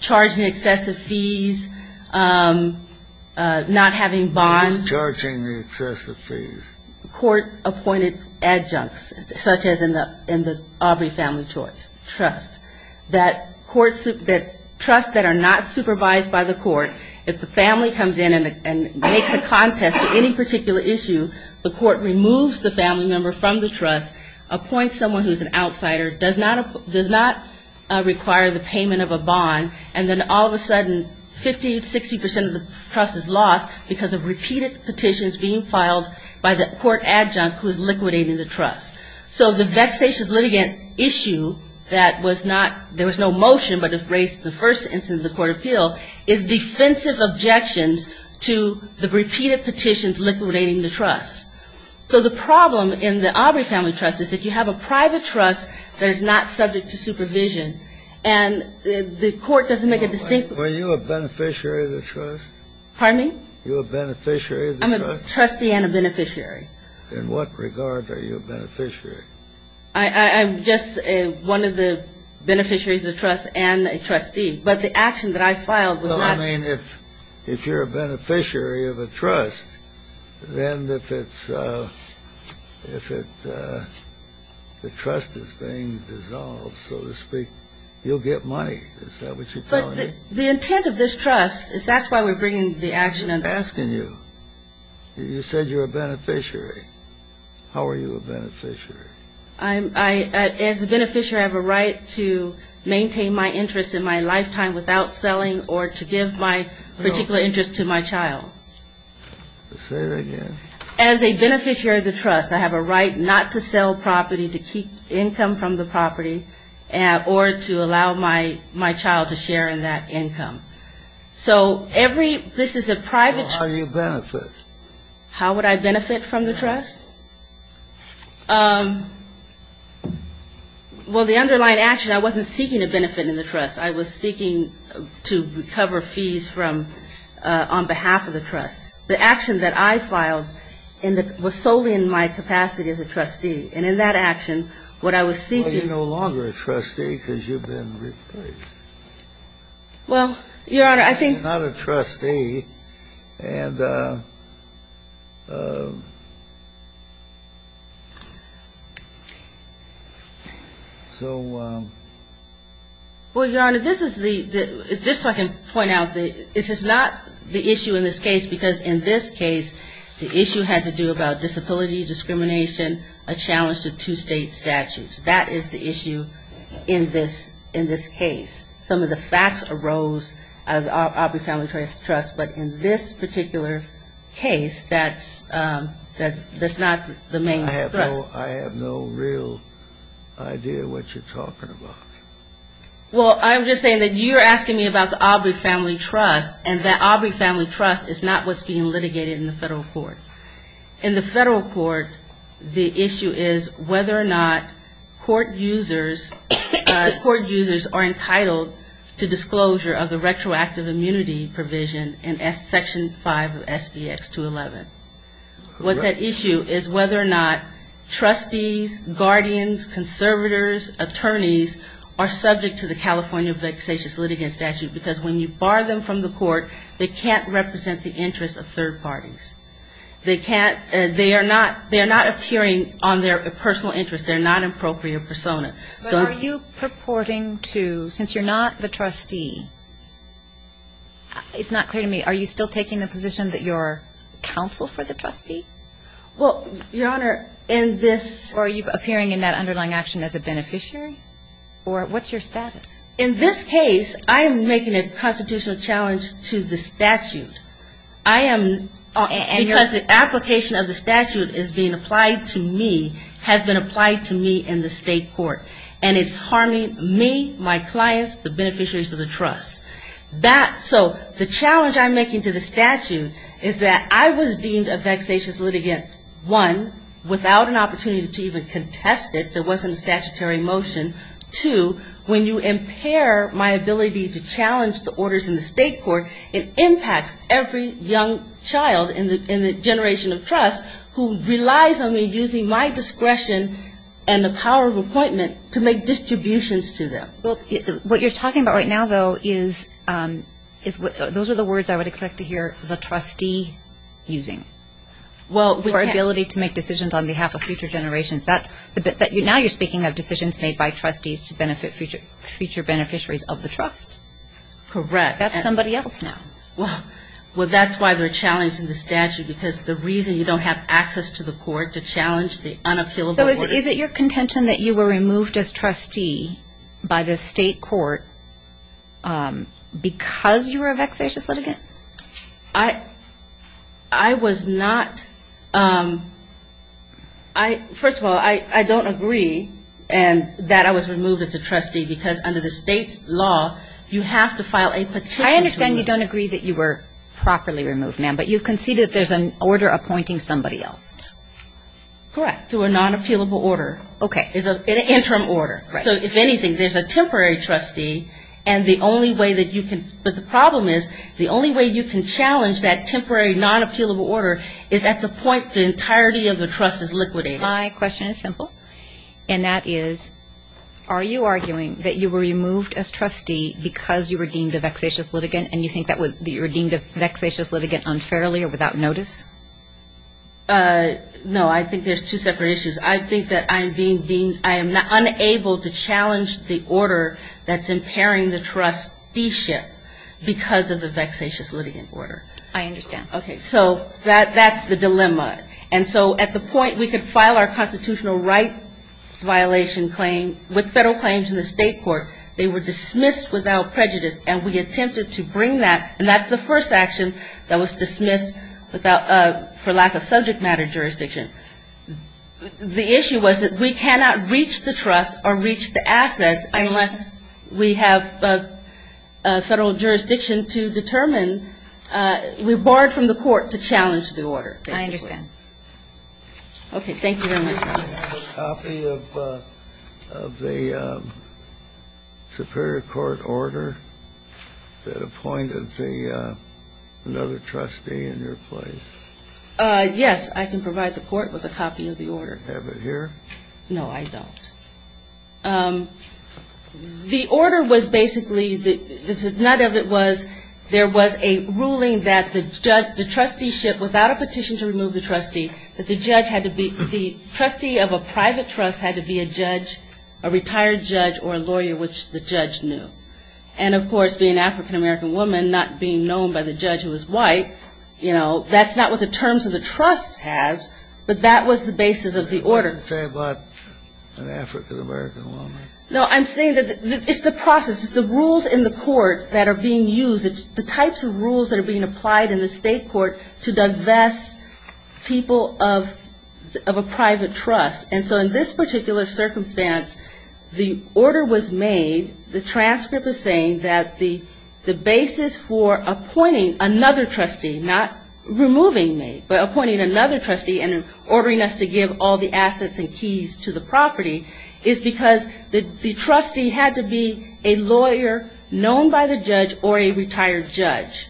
Charging excessive fees, not having bonds. Charging the excessive fees. Court-appointed adjuncts, such as in the Aubrey family trust. That trust that are not supervised by the court, if the family comes in and makes a contest to any particular issue, the court removes the family member from the trust, appoints someone who's an outsider, does not require the payment of a bond, and then all of a sudden 50 to 60 percent of the trust is lost because of repeated petitions being filed by the court adjunct who is liquidating the trust. So the vexatious litigant issue that was not – there was no motion but it raised the first instance of the court of appeal is defensive objections to the repeated petitions liquidating the trust. So the problem in the Aubrey family trust is if you have a private trust that is not subject to supervision and the court doesn't make a distinct – Were you a beneficiary of the trust? Pardon me? You a beneficiary of the trust? I'm a trustee and a beneficiary. In what regard are you a beneficiary? I'm just one of the beneficiaries of the trust and a trustee. But the action that I filed was not – Well, I mean, if you're a beneficiary of a trust, then if it's – if the trust is being dissolved, so to speak, you'll get money. Is that what you're telling me? The intent of this trust is that's why we're bringing the action under. I'm asking you. You said you're a beneficiary. How are you a beneficiary? I'm – as a beneficiary, I have a right to maintain my interest in my lifetime without selling or to give my particular interest to my child. Say that again. As a beneficiary of the trust, I have a right not to sell property, to keep income from the property, or to allow my child to share in that income. So every – this is a private – How do you benefit? How would I benefit from the trust? Well, the underlying action, I wasn't seeking a benefit in the trust. I was seeking to recover fees from – on behalf of the trust. The action that I filed was solely in my capacity as a trustee. And in that action, what I was seeking – Well, you're no longer a trustee because you've been replaced. Well, Your Honor, I think – You're not a trustee. And so – Well, Your Honor, this is the – just so I can point out, this is not the issue in this case The issue has to do about disability, discrimination, a challenge to two-state statutes. That is the issue in this case. Some of the facts arose out of the Aubrey Family Trust, but in this particular case, that's not the main thrust. I have no real idea what you're talking about. Well, I'm just saying that you're asking me about the Aubrey Family Trust, and that Aubrey Family Trust is not what's being litigated in the federal court. In the federal court, the issue is whether or not court users are entitled to disclosure of the retroactive immunity provision in Section 5 of SBX-211. What's at issue is whether or not trustees, guardians, conservators, attorneys, are subject to the California vexatious litigant statute because when you bar them from the court, they can't represent the interests of third parties. They can't – they are not appearing on their personal interest. They're not an appropriate persona. But are you purporting to – since you're not the trustee, it's not clear to me, are you still taking the position that you're counsel for the trustee? Well, Your Honor, in this – Or are you appearing in that underlying action as a beneficiary? Or what's your status? In this case, I am making a constitutional challenge to the statute. I am – because the application of the statute is being applied to me, has been applied to me in the state court. And it's harming me, my clients, the beneficiaries of the trust. That – so the challenge I'm making to the statute is that I was deemed a vexatious litigant, one, without an opportunity to even contest it. There wasn't a statutory motion. And two, when you impair my ability to challenge the orders in the state court, it impacts every young child in the generation of trust who relies on me using my discretion and the power of appointment to make distributions to them. Well, what you're talking about right now, though, is – those are the words I would expect to hear the trustee using. Well, we can't – Your ability to make decisions on behalf of future generations. Now you're speaking of decisions made by trustees to benefit future beneficiaries of the trust. Correct. That's somebody else now. Well, that's why they're challenging the statute, because the reason you don't have access to the court to challenge the unappealable orders. So is it your contention that you were removed as trustee by the state court because you were a vexatious litigant? I was not – first of all, I don't agree that I was removed as a trustee, because under the state's law, you have to file a petition. I understand you don't agree that you were properly removed, ma'am, but you concede that there's an order appointing somebody else. Correct. Through a non-appealable order. Okay. An interim order. So if anything, there's a temporary trustee, and the only way that you can – but the problem is the only way you can challenge that temporary non-appealable order is at the point the entirety of the trust is liquidated. My question is simple, and that is, are you arguing that you were removed as trustee because you were deemed a vexatious litigant, and you think that you were deemed a vexatious litigant unfairly or without notice? No, I think there's two separate issues. I think that I'm being deemed – I am unable to challenge the order that's impairing the trusteeship because of the vexatious litigant order. I understand. Okay. So that's the dilemma. And so at the point we could file our constitutional rights violation claim with federal claims in the state court, they were dismissed without prejudice, and we attempted to bring that – and that's the first action that was dismissed for lack of subject matter jurisdiction. The issue was that we cannot reach the trust or reach the assets unless we have federal jurisdiction to determine – we're barred from the court to challenge the order, basically. I understand. Okay. Thank you very much. Do you have a copy of the superior court order that appointed another trustee in your place? Yes. I can provide the court with a copy of the order. Do you have it here? No, I don't. The order was basically – none of it was – there was a ruling that the trusteeship without a petition to remove the trustee, that the judge had to be – the trustee of a private trust had to be a judge, a retired judge or a lawyer, which the judge knew. And, of course, being an African-American woman, not being known by the judge who was white, you know, that's not what the terms of the trust has, but that was the basis of the order. I didn't say about an African-American woman. No, I'm saying that it's the process. It's the rules in the court that are being used. It's the types of rules that are being applied in the state court to divest people of a private trust. And so in this particular circumstance, the order was made, the transcript is saying, that the basis for appointing another trustee, not removing me, but appointing another trustee and ordering us to give all the assets and keys to the property, is because the trustee had to be a lawyer known by the judge or a retired judge.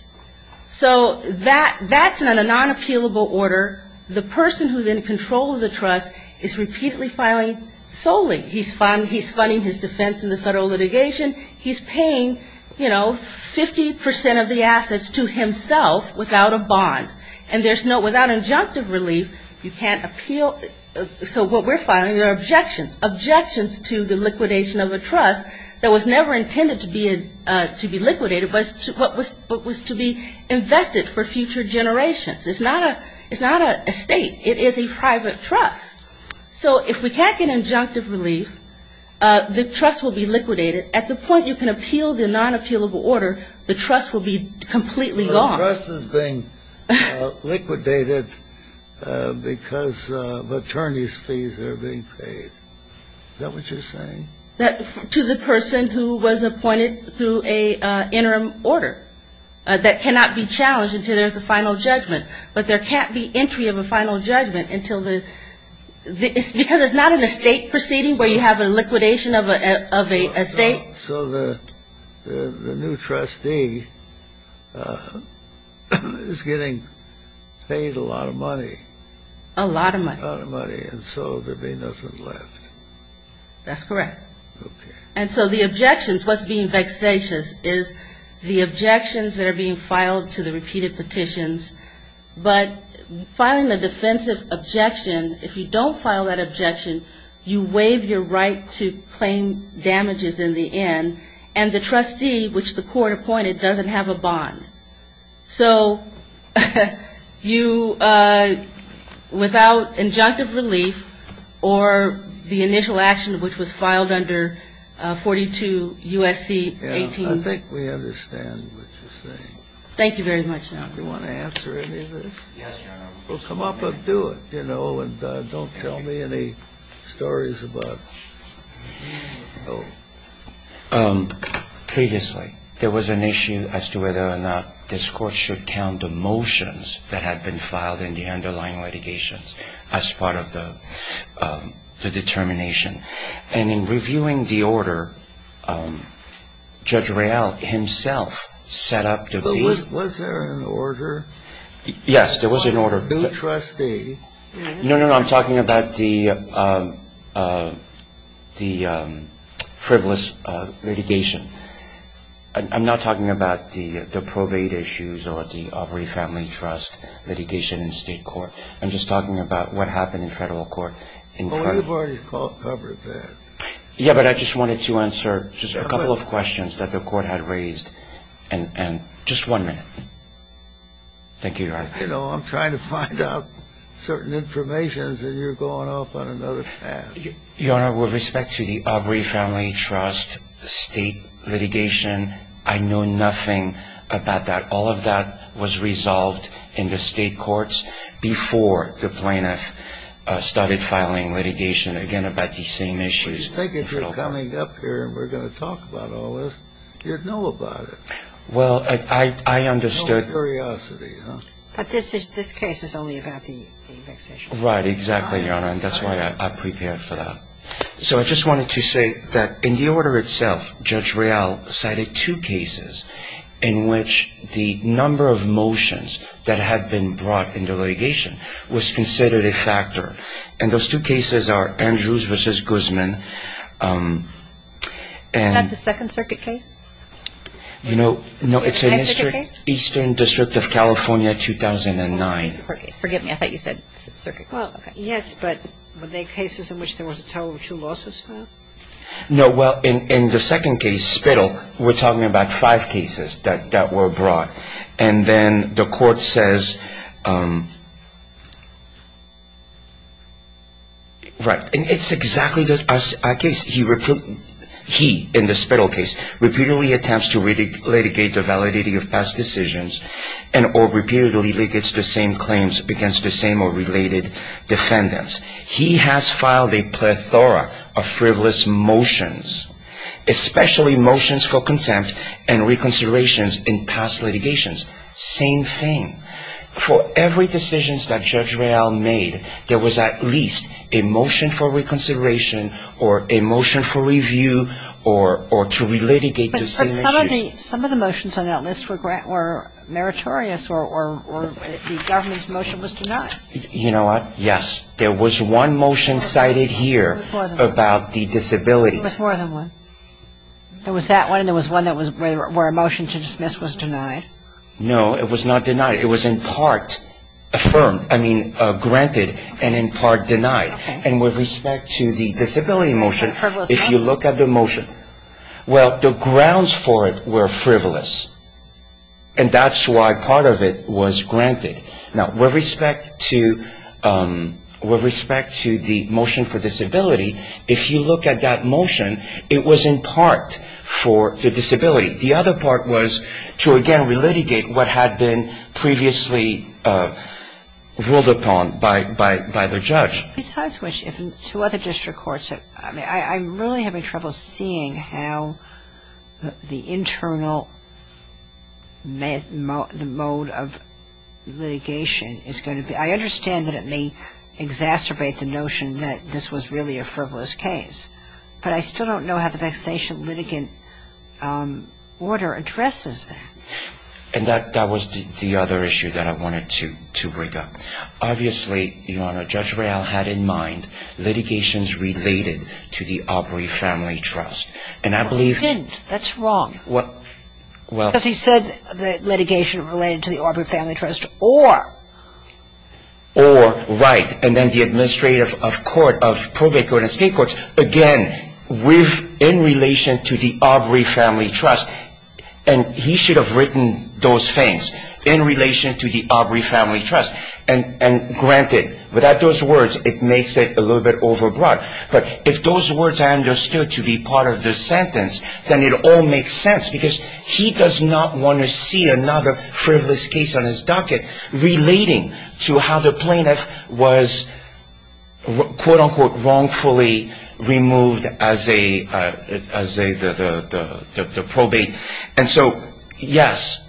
So that's in a non-appealable order. The person who's in control of the trust is repeatedly filing solely. He's funding his defense in the federal litigation. He's paying, you know, 50% of the assets to himself without a bond. And there's no – without injunctive relief, you can't appeal. So what we're filing are objections, objections to the liquidation of a trust that was never intended to be liquidated but was to be invested for future generations. It's not a state. It is a private trust. So if we can't get injunctive relief, the trust will be liquidated. At the point you can appeal the non-appealable order, the trust will be completely gone. So the trust is being liquidated because of attorney's fees that are being paid. Is that what you're saying? To the person who was appointed through an interim order that cannot be challenged until there's a final judgment. But there can't be entry of a final judgment until the – because it's not in a state proceeding where you have a liquidation of a state. So the new trustee is getting paid a lot of money. A lot of money. A lot of money. And so there'd be nothing left. That's correct. Okay. And so the objections, what's being vexatious is the objections that are being filed to the repeated petitions. But filing a defensive objection, if you don't file that objection, you waive your right to claim damages in the end. And the trustee, which the court appointed, doesn't have a bond. So you – without injunctive relief or the initial action which was filed under 42 U.S.C. 18. I think we understand what you're saying. Thank you very much. Do you want to answer any of this? Yes, Your Honor. Well, come up and do it, you know. And don't tell me any stories about – Previously, there was an issue as to whether or not this court should count the motions that had been filed in the underlying litigations as part of the determination. And in reviewing the order, Judge Real himself set up the – But was there an order? Yes, there was an order. By a new trustee? No, no, no. I'm talking about the frivolous litigation. I'm not talking about the probate issues or the Aubrey Family Trust litigation in state court. I'm just talking about what happened in federal court in – Well, we've already covered that. Yeah, but I just wanted to answer just a couple of questions that the court had raised. And just one minute. Thank you, Your Honor. You know, I'm trying to find out certain information, and you're going off on another path. Your Honor, with respect to the Aubrey Family Trust state litigation, I know nothing about that. All of that was resolved in the state courts before the plaintiff started filing litigation, again, about these same issues. But you think if you're coming up here and we're going to talk about all this, you'd know about it. Well, I understood – Curiosity, huh? But this case is only about the eviction. Right, exactly, Your Honor, and that's why I prepared for that. So I just wanted to say that in the order itself, Judge Real cited two cases in which the number of motions that had been brought into litigation was considered a factor. And those two cases are Andrews v. Guzman and – Isn't that the Second Circuit case? No, it's in Eastern District of California, 2009. Forgive me, I thought you said Circuit case. Well, yes, but were they cases in which there was a total of two lawsuits filed? No. Well, in the second case, Spittel, we're talking about five cases that were brought. And then the court says – right. And it's exactly our case. He, in the Spittel case, repeatedly attempts to litigate the validity of past decisions and or repeatedly ligates the same claims against the same or related defendants. He has filed a plethora of frivolous motions, especially motions for contempt and reconsiderations in past litigations. Same thing. For every decision that Judge Real made, there was at least a motion for reconsideration or a motion for review or to relitigate the same issues. But some of the motions on that list were meritorious or the government's motion was denied. You know what? Yes. There was one motion cited here about the disability. There was more than one. There was that one and there was one where a motion to dismiss was denied. No, it was not denied. It was in part affirmed. I mean, granted and in part denied. And with respect to the disability motion, if you look at the motion, well, the grounds for it were frivolous. And that's why part of it was granted. Now, with respect to the motion for disability, if you look at that motion, it was in part for the disability. The other part was to, again, relitigate what had been previously ruled upon by the judge. Besides which, if two other district courts have ‑‑ I'm really having trouble seeing how the internal mode of litigation is going to be. I understand that it may exacerbate the notion that this was really a frivolous case. But I still don't know how the vexation litigant order addresses that. And that was the other issue that I wanted to bring up. Obviously, Your Honor, Judge Real had in mind litigations related to the Aubrey Family Trust. And I believe ‑‑ Well, it didn't. That's wrong. Because he said litigation related to the Aubrey Family Trust or ‑‑ Again, in relation to the Aubrey Family Trust. And he should have written those things in relation to the Aubrey Family Trust. And granted, without those words, it makes it a little bit overbroad. But if those words are understood to be part of the sentence, then it all makes sense. Because he does not want to see another frivolous case on his docket relating to how the plaintiff was, quote, unquote, wrongfully removed as the probate. And so, yes.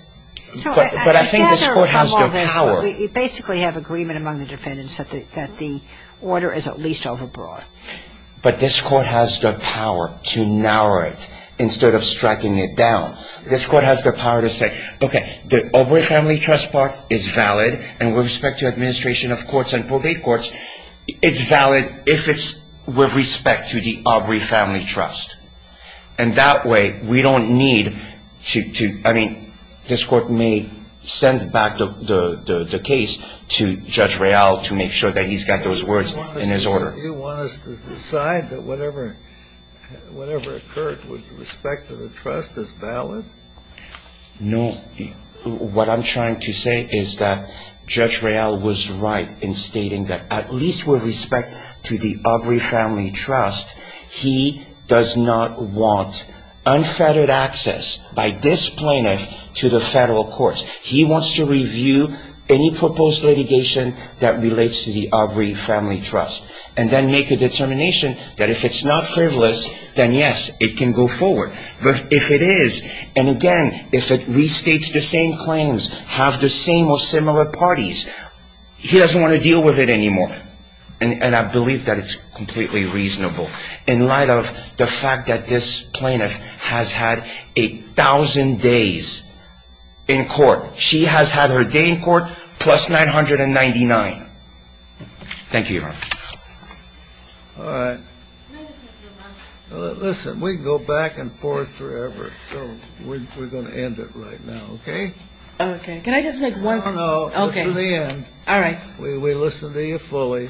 But I think this court has the power. We basically have agreement among the defendants that the order is at least overbroad. But this court has the power to narrow it instead of striking it down. This court has the power to say, okay, the Aubrey Family Trust part is valid. And with respect to administration of courts and probate courts, it's valid if it's with respect to the Aubrey Family Trust. And that way, we don't need to ‑‑ I mean, this court may send back the case to Judge Real to make sure that he's got those words in his order. Do you want us to decide that whatever occurred with respect to the trust is valid? No. What I'm trying to say is that Judge Real was right in stating that at least with respect to the Aubrey Family Trust, he does not want unfettered access by this plaintiff to the federal courts. He wants to review any proposed litigation that relates to the Aubrey Family Trust. And then make a determination that if it's not frivolous, then yes, it can go forward. But if it is, and again, if it restates the same claims, have the same or similar parties, he doesn't want to deal with it anymore. And I believe that it's completely reasonable. in light of the fact that this plaintiff has had a thousand days in court. She has had her day in court plus 999. Thank you, Your Honor. All right. Listen, we can go back and forth forever. We're going to end it right now, okay? Okay. Can I just make one comment? No, no. Listen to the end. We listened to you fully.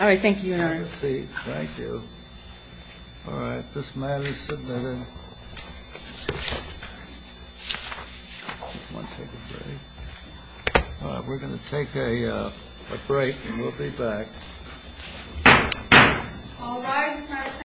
All right. Thank you, Your Honor. Take a seat. Thank you. All right. This matter is submitted. All right. We're going to take a break and we'll be back.